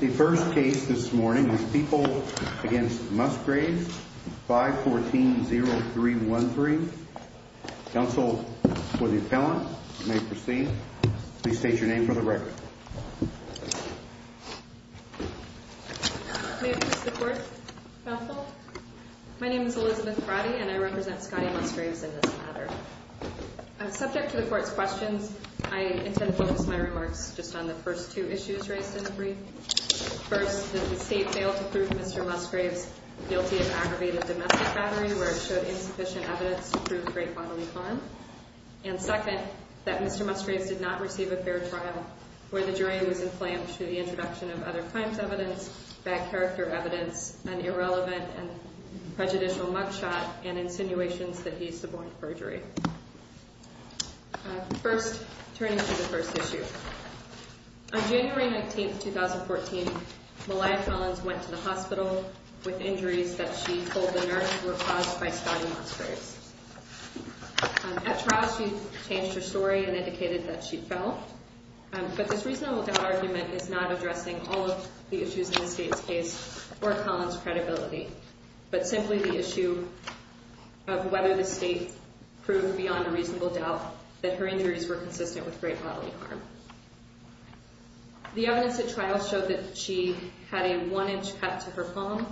The first case this morning is People v. Musgraves 514-0313. Counsel for the appellant may proceed. Please state your name for the record. May it please the Court, Counsel. My name is Elizabeth Brody and I represent Scotty Musgraves in this matter. Subject to the Court's questions, I intend to focus my remarks just on the first two issues raised in the brief. First, that the State failed to prove Mr. Musgraves guilty of aggravated domestic battery, where it showed insufficient evidence to prove great bodily harm. And second, that Mr. Musgraves did not receive a fair trial, where the jury was enflammed through the introduction of other crimes evidence, bad character evidence, an irrelevant and prejudicial mugshot, and insinuations that he suborned perjury. First, turning to the first issue. On January 19, 2014, Malia Collins went to the hospital with injuries that she told the nurse were caused by Scotty Musgraves. At trial, she changed her story and indicated that she fell. But this reasonable doubt argument is not addressing all of the issues in the State's case or Collins' credibility, but simply the issue of whether the State proved beyond a reasonable doubt that her injuries were consistent with great bodily harm. The evidence at trial showed that she had a one-inch cut to her palm,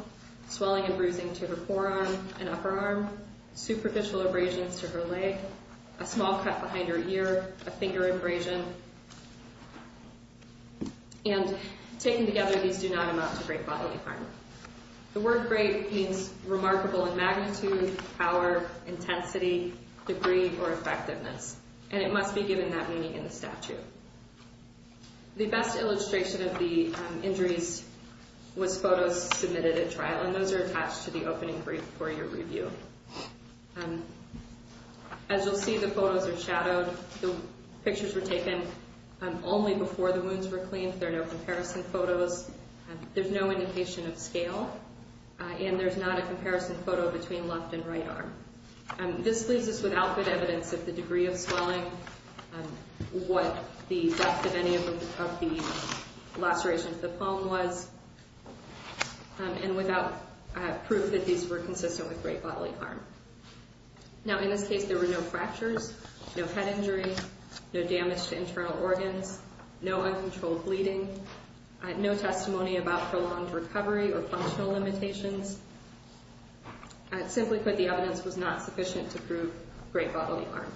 swelling and bruising to her forearm and upper arm, superficial abrasions to her leg, a small cut behind her ear, a finger abrasion. And taken together, these do not amount to great bodily harm. The word great means remarkable in magnitude, power, intensity, degree, or effectiveness. And it must be given that meaning in the statute. The best illustration of the injuries was photos submitted at trial, and those are attached to the opening brief for your review. As you'll see, the photos are shadowed. The pictures were taken only before the wounds were cleaned. There are no comparison photos. There's no indication of scale. And there's not a comparison photo between left and right arm. This leaves us without good evidence of the degree of swelling, what the depth of any of the lacerations to the palm was, and without proof that these were consistent with great bodily harm. Now, in this case, there were no fractures, no head injury, no damage to internal organs, no uncontrolled bleeding, no testimony about prolonged recovery or functional limitations. Simply put, the evidence was not sufficient to prove great bodily harm.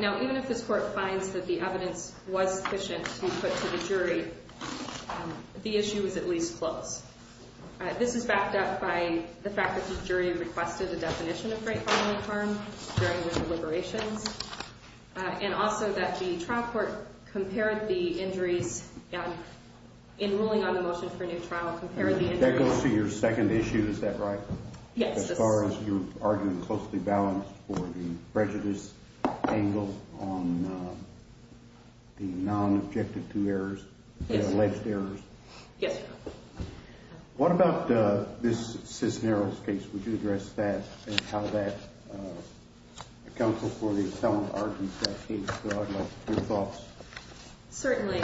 Now, even if this court finds that the evidence was sufficient to be put to the jury, the issue is at least close. This is backed up by the fact that the jury requested a definition of great bodily harm during the deliberations, and also that the trial court compared the injuries in ruling on the motion for a new trial, That goes to your second issue, is that right? Yes. As far as you're arguing closely balanced for the prejudice angle on the non-objective two errors, the alleged errors. Yes, Your Honor. What about this Cisneros case? Would you address that and how that accounts for the appellant argument in that case? I'd like your thoughts. Certainly.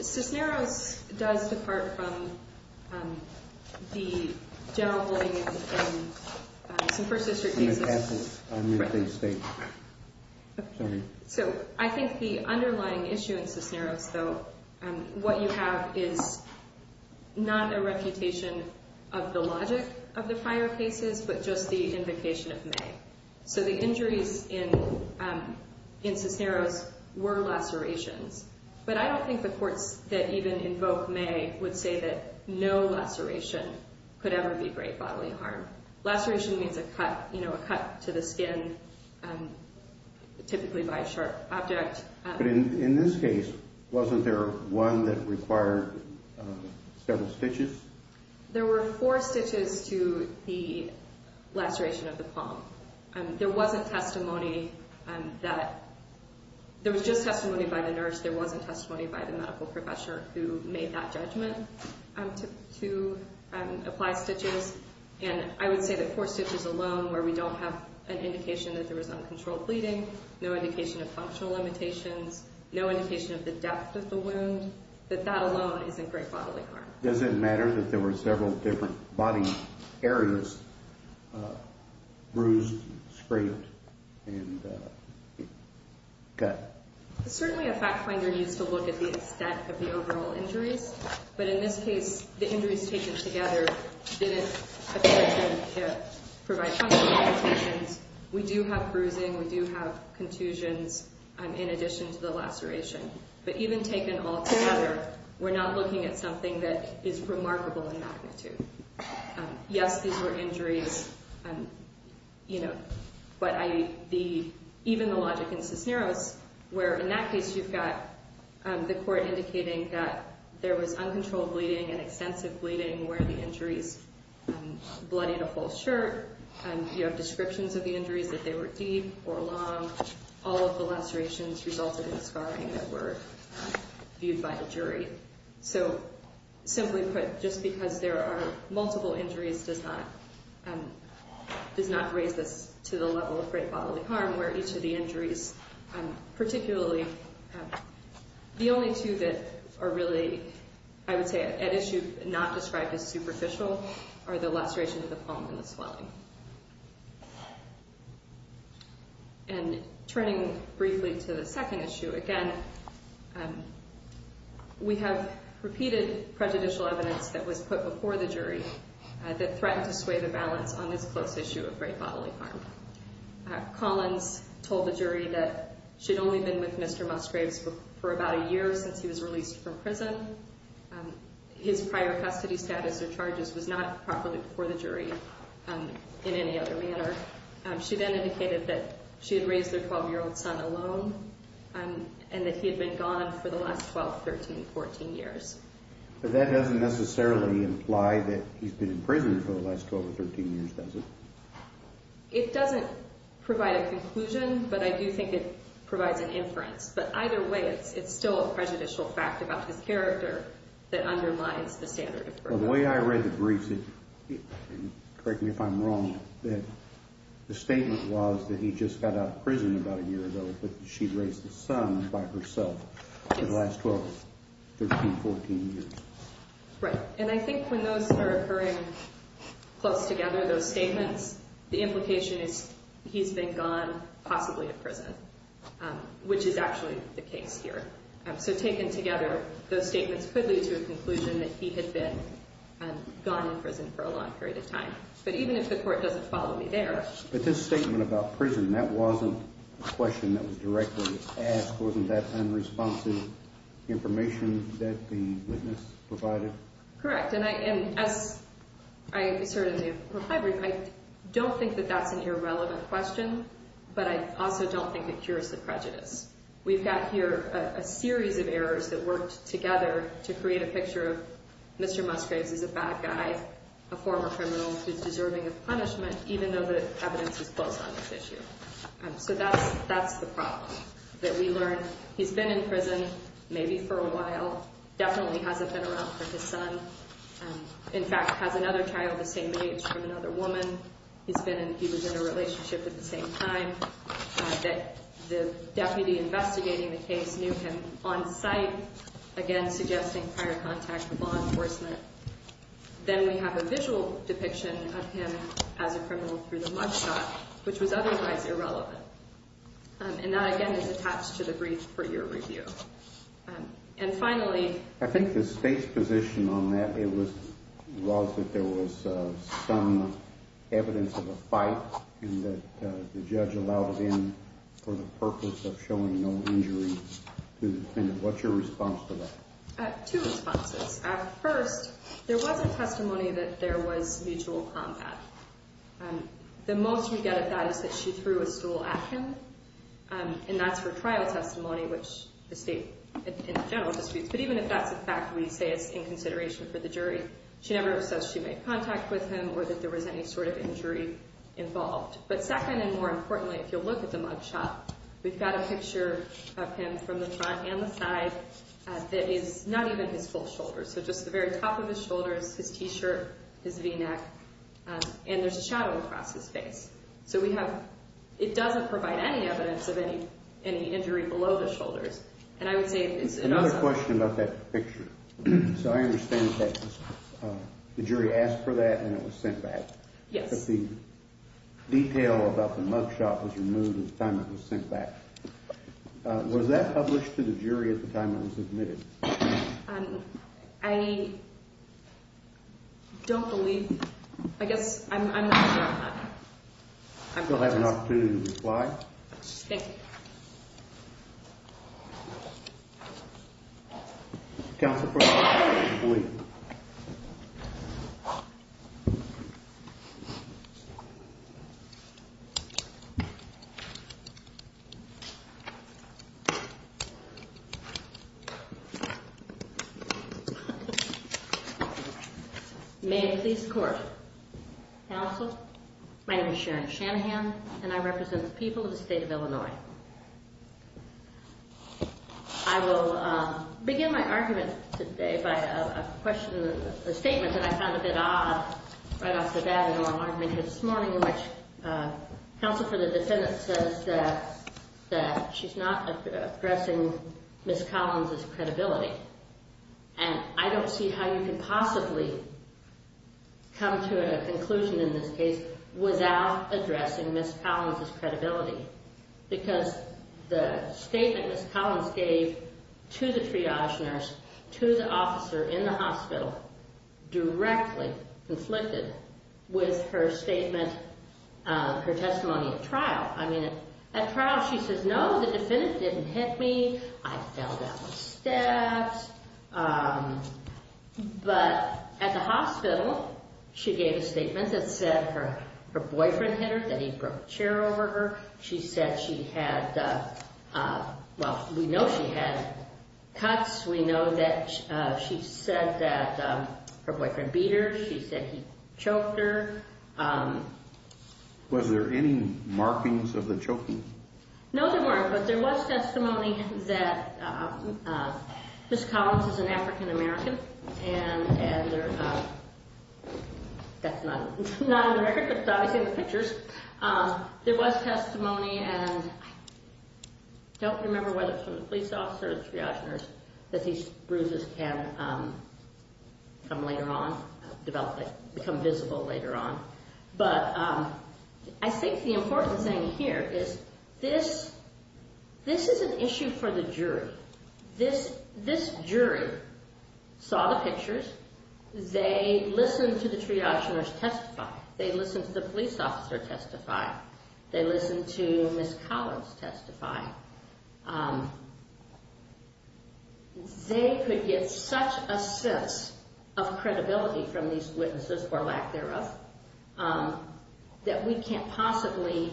Cisneros does depart from the general bullying in some First District cases. In an appellant. Right. Sorry. So, I think the underlying issue in Cisneros, though, what you have is not a reputation of the logic of the fire cases, but just the invocation of May. So the injuries in Cisneros were lacerations. But I don't think the courts that even invoke May would say that no laceration could ever be great bodily harm. Laceration means a cut, you know, a cut to the skin, typically by a sharp object. But in this case, wasn't there one that required several stitches? There wasn't testimony that, there was just testimony by the nurse. There wasn't testimony by the medical professor who made that judgment to apply stitches. And I would say that four stitches alone where we don't have an indication that there was uncontrolled bleeding, no indication of functional limitations, no indication of the depth of the wound, that that alone isn't great bodily harm. Does it matter that there were several different body areas bruised, scraped, and cut? Certainly, a fact finder needs to look at the extent of the overall injuries. But in this case, the injuries taken together didn't appear to provide functional limitations. We do have bruising. We do have contusions in addition to the laceration. But even taken all together, we're not looking at something that is remarkable in magnitude. Yes, these were injuries, you know, but I, the, even the logic in Cisneros, where in that case you've got the court indicating that there was uncontrolled bleeding and extensive bleeding where the injuries bloodied a whole shirt. You have descriptions of the injuries that they were deep or long. All of the lacerations resulted in scarring that were viewed by the jury. So simply put, just because there are multiple injuries does not, does not raise this to the level of great bodily harm where each of the injuries, particularly the only two that are really, I would say, at issue, not described as superficial are the laceration of the palm and the swelling. And turning briefly to the second issue, again, we have repeated prejudicial evidence that was put before the jury that threatened to sway the balance on this close issue of great bodily harm. Collins told the jury that she'd only been with Mr. Musgraves for about a year since he was released from prison. His prior custody status or charges was not properly before the jury. In any other manner. She then indicated that she had raised their 12-year-old son alone and that he had been gone for the last 12, 13, 14 years. But that doesn't necessarily imply that he's been in prison for the last 12 or 13 years, does it? It doesn't provide a conclusion, but I do think it provides an inference. But either way, it's still a prejudicial fact about his character that underlines the standard of birth. But the way I read the briefs, and correct me if I'm wrong, that the statement was that he just got out of prison about a year ago, but that she raised the son by herself for the last 12, 13, 14 years. Right. And I think when those are occurring close together, those statements, the implication is he's been gone, possibly in prison, which is actually the case here. So taken together, those statements could lead to a conclusion that he had been gone in prison for a long period of time. But even if the court doesn't follow me there. But this statement about prison, that wasn't a question that was directly asked. Wasn't that unresponsive information that the witness provided? Correct. And as I asserted in the reply brief, I don't think that that's an irrelevant question, but I also don't think it cures the prejudice. We've got here a series of errors that worked together to create a picture of Mr. Musgraves as a bad guy, a former criminal who's deserving of punishment, even though the evidence is close on this issue. So that's the problem. That we learn he's been in prison maybe for a while, definitely hasn't been around for his son, in fact, has another child the same age from another woman. He was in a relationship at the same time. That the deputy investigating the case knew him on site, again, suggesting prior contact with law enforcement. Then we have a visual depiction of him as a criminal through the mug shot, which was otherwise irrelevant. And that, again, is attached to the brief for your review. And finally... I think the State's position on that was that there was some evidence of a fight and that the judge allowed it in for the purpose of showing no injury to the defendant. What's your response to that? Two responses. First, there was a testimony that there was mutual combat. The most we get of that is that she threw a stool at him. And that's her trial testimony, which the State, in general, disputes. But even if that's a fact, we say it's in consideration for the jury. She never says she made contact with him or that there was any sort of injury involved. But second, and more importantly, if you look at the mug shot, we've got a picture of him from the front and the side that is not even his full shoulders. So just the very top of his shoulders, his T-shirt, his V-neck. And there's a shadow across his face. So we have... It doesn't provide any evidence of any injury below the shoulders. And I would say it's... Another question about that picture. So I understand that the jury asked for that at the time it was sent back. Yes. But the detail about the mug shot was removed at the time it was sent back. Was that published to the jury at the time it was submitted? I don't believe... I guess I'm not... You'll have an opportunity to reply. Thank you. Counsel, please. Thank you. May it please the Court. Counsel, my name is Sharon Shanahan, and I represent the people of the state of Illinois. I will begin my argument today by a statement that I found a bit odd in my argument this morning in which counsel for the defendant says that she's not addressing Ms. Collins' credibility. And I don't see how you can possibly come to a conclusion in this case without addressing Ms. Collins' credibility. Because the statement Ms. Collins gave to the triage nurse, to the officer in the hospital, directly conflicted with her statement, her testimony at trial. I mean, at trial she says, no, the defendant didn't hit me. I fell down the steps. But at the hospital she gave a statement that said her boyfriend hit her, that he broke a chair over her. She said she had... Well, we know she had cuts. We know that she said that her boyfriend beat her. She said he choked her. Was there any markings of the choking? No, there weren't. But there was testimony that Ms. Collins is an African-American, and that's not an American. It's obviously in the pictures. There was testimony, and I don't remember whether it was from the police officer or the triage nurse, that these bruises can come later on, become visible later on. But I think the important thing here is this is an issue for the jury. This jury saw the pictures. They listened to the triage nurse testify. They listened to the police officer testify. They listened to Ms. Collins testify. They could get such a sense of credibility from these witnesses, or lack thereof, that we can't possibly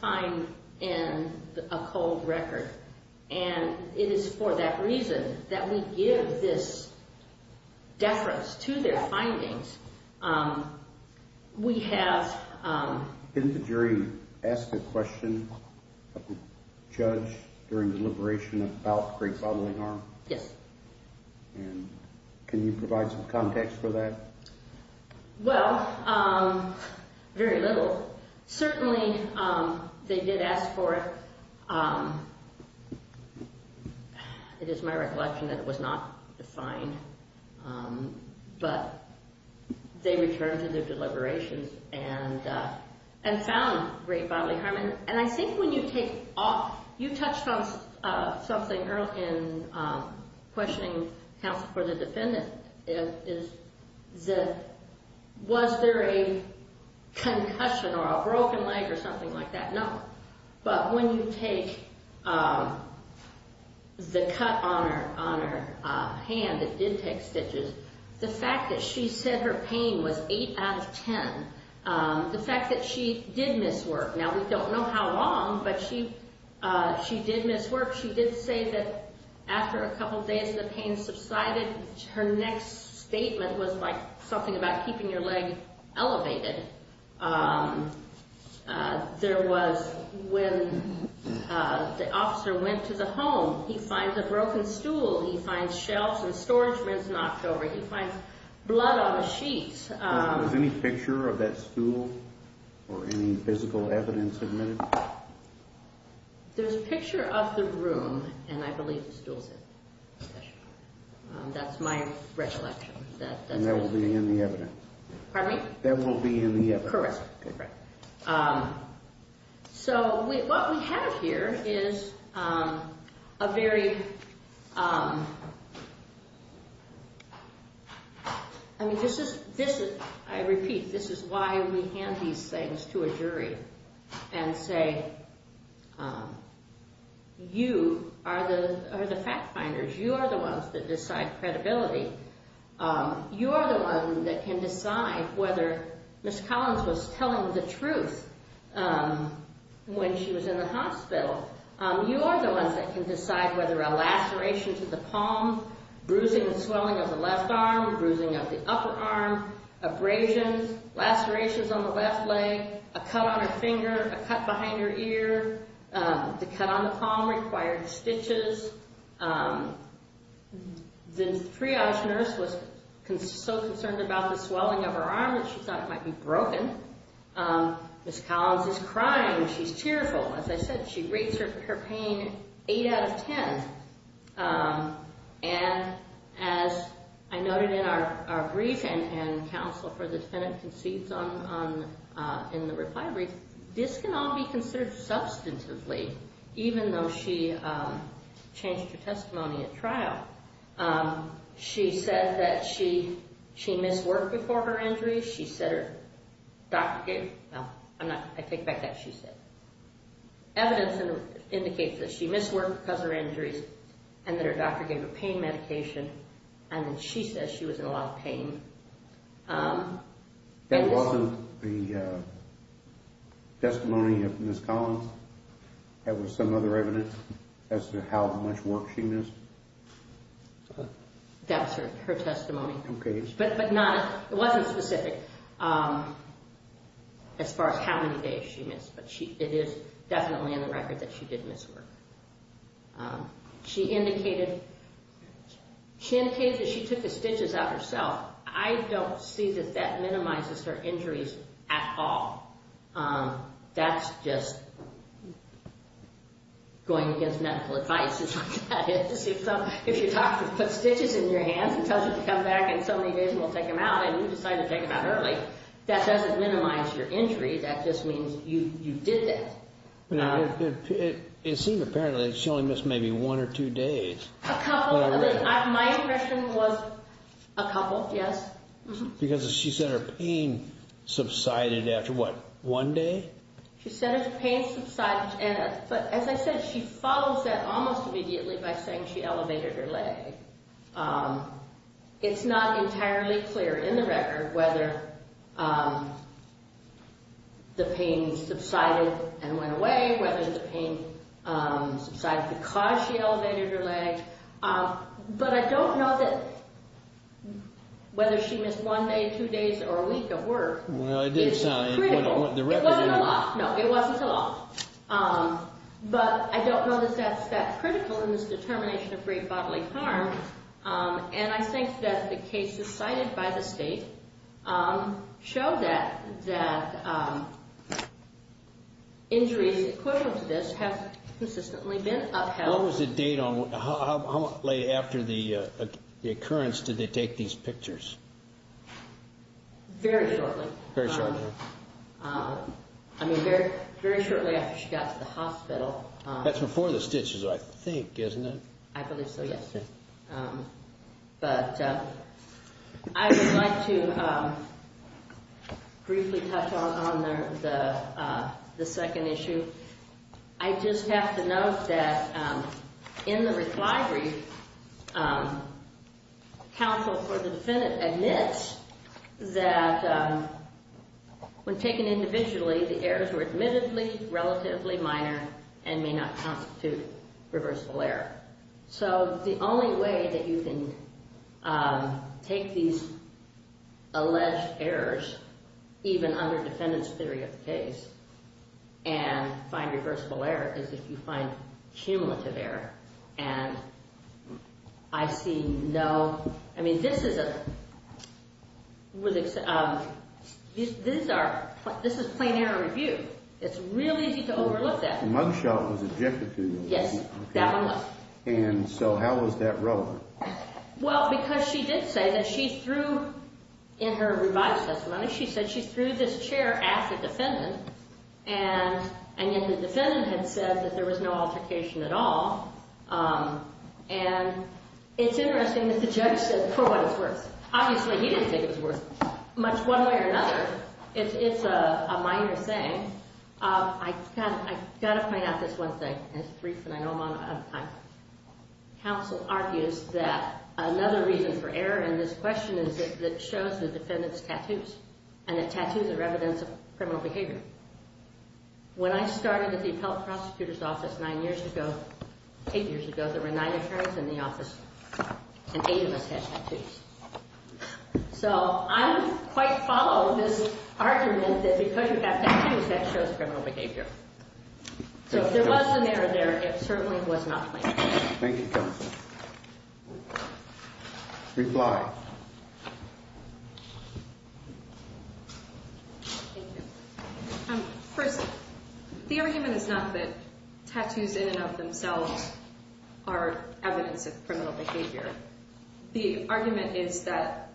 find in a cold record. And it is for that reason that we give this deference to their findings. We have... The jury asked a question of the judge during the deliberation about the grape-bottling arm. Yes. And can you provide some context for that? Well, very little. Certainly, they did ask for it. It is my recollection that it was not defined. But they returned to their deliberations and found grape-bottling arm. And I think when you take... You touched on something earlier in questioning counsel for the defendant. Was there a concussion or a broken leg or something like that? No. But when you take the cut on her hand that did take stitches, the fact that she said her pain was 8 out of 10 the fact that she did miss work. Now, we don't know how long, but she did miss work. She did say that after a couple of days the pain subsided. Her next statement was like something about keeping your leg elevated. There was... When the officer went to the home, he finds a broken stool. He finds shelves and storage bins knocked over. He finds blood on a sheet. Was any picture of that stool or any physical evidence admitted? There's a picture of the room and I believe the stool's in it. That's my recollection. And that will be in the evidence? Pardon me? That will be in the evidence? Correct. So, what we have here is a very... I repeat, this is why we hand these things to a jury and say you are the fact finders. You are the ones that decide credibility. You are the ones that can decide whether Ms. Collins was telling the truth when she was in the hospital. You are the ones that can decide whether a laceration to the palm, bruising and swelling of the left arm, bruising of the upper arm, abrasions, lacerations on the left leg, a cut on her finger, a cut behind her ear, the cut on the palm required stitches. The triage nurse was so concerned about the swelling of her arm that she thought it might be broken. Ms. Collins is crying. She's tearful. As I said, she rates her pain 8 out of 10. And as I noted in our brief and counsel for the defendant concedes in the reply brief, this can all be considered substantively even though she changed her testimony at trial. She said that she missed work before her injury. She said her doctor gave... No, I take back that she said. Evidence indicates that she missed work because of her injuries and that her doctor gave her pain medication and that she says she was in a lot of pain. That wasn't the testimony of Ms. Collins? That was some other evidence as to how much work she missed? That was her testimony. Okay. But not... it wasn't specific as far as how many days she missed but it is definitely in the record that she did miss work. She indicated that she took the stitches out herself. I don't see that that minimizes her injuries at all. That's just going against medical advice. If your doctor puts stitches in your hands and tells you to come back in so many days and we'll take them out and you decide to take them out early, that doesn't minimize your injury. That just means you did that. It seems apparently that she only missed maybe one or two days. A couple. My impression was a couple, yes. Because she said her pain subsided after what, one day? She said her pain subsided but as I said, she follows that almost immediately by saying she elevated her leg. It's not entirely clear in the record whether the pain subsided and went away, whether the pain subsided because she elevated her leg. But I don't know that whether she missed one day, two days, or a week of work. Well, it didn't sound like it. It wasn't a lot. No, it wasn't a lot. But I don't know that that's that critical in this determination of free bodily harm. And I think that the cases cited by the state show that injuries equivalent to this have consistently been upheld. What was the date on, how late after the occurrence did they take these pictures? Very shortly. Very shortly. I mean, very shortly after she got to the hospital. That's before the stitches, I think, isn't it? I believe so, yes. But I would like to briefly touch on the second issue. I just have to note that in the reply brief, counsel for the defendant admits that when taken individually, the errors were admittedly relatively minor and may not constitute reversal error. So the only way that you can take these alleged errors, even under defendant's theory of the case, and find reversible error, is if you find cumulative error. And I see no... I mean, this is a... This is plain error review. It's really easy to overlook that. The mug shot was objective to you. Yes, that one was. And so how was that relevant? Well, because she did say that she threw, in her revised testimony, she said she threw this chair at the defendant. And the defendant had said that there was no altercation at all. And it's interesting that the judge said, for what it's worth, obviously he didn't think it was worth much one way or another. It's a minor thing. I've got to point out this one thing. And I know I'm out of time. Counsel argues that another reason for error in this question is that it shows the defendant's tattoos. And the tattoos are evidence of criminal behavior. When I started at the appellate prosecutor's office nine years ago, eight years ago, there were nine attorneys in the office and eight of us had tattoos. So I quite follow this argument that because you have tattoos, that shows criminal behavior. So if there was an error there, it certainly was not planned. Thank you, counsel. Reply. Thank you. First, the argument is not that tattoos in and of themselves are evidence of criminal behavior. The argument is that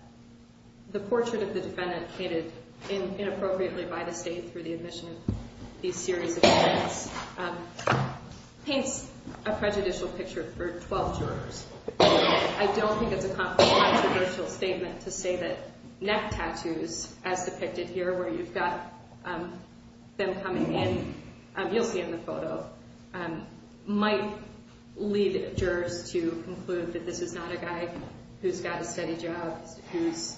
the portrait of the defendant painted inappropriately by the state through the admission of these series of events paints a prejudicial picture for 12 jurors. I don't think it's a controversial statement to say that neck tattoos, as depicted here where you've got them coming in, you'll see in the photo, might lead jurors to conclude that this is not a guy who's got a steady job, whose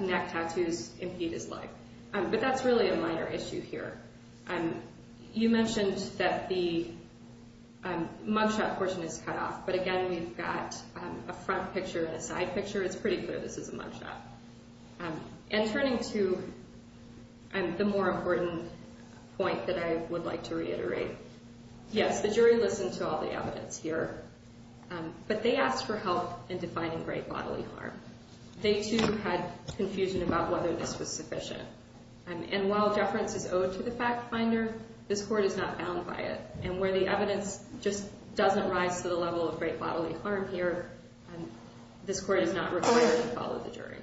neck tattoos impede his life. But that's really a minor issue here. You mentioned that the mugshot portion is cut off, but again, we've got a front picture and a side picture. It's pretty clear this is a mugshot. And turning to the more important point that I would like to reiterate, yes, the jury listened to all the evidence here, but they asked for help in defining great bodily harm. They too had confusion about whether this was sufficient. And while deference is owed to the fact finder, this court is not bound by it. And where the evidence just doesn't rise to the level of great bodily harm here, this court is not required to follow the jury.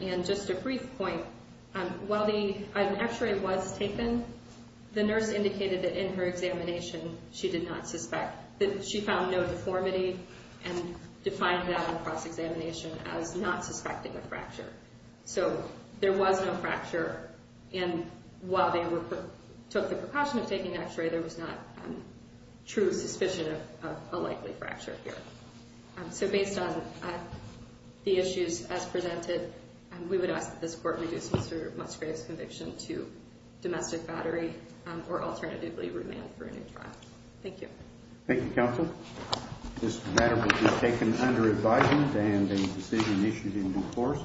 And just a brief point, while an x-ray was taken, the nurse indicated that in her examination she found no deformity and defined that in cross-examination as not suspecting a fracture. So there was no fracture, and while they took the precaution of taking the x-ray, there was not true suspicion of a likely fracture here. So based on the issues as presented, we would ask that this court reduce Mr. Musgrave's conviction to domestic battery or alternatively remand for a new trial. Thank you. Thank you, counsel. This matter will be taken under advisement of the court.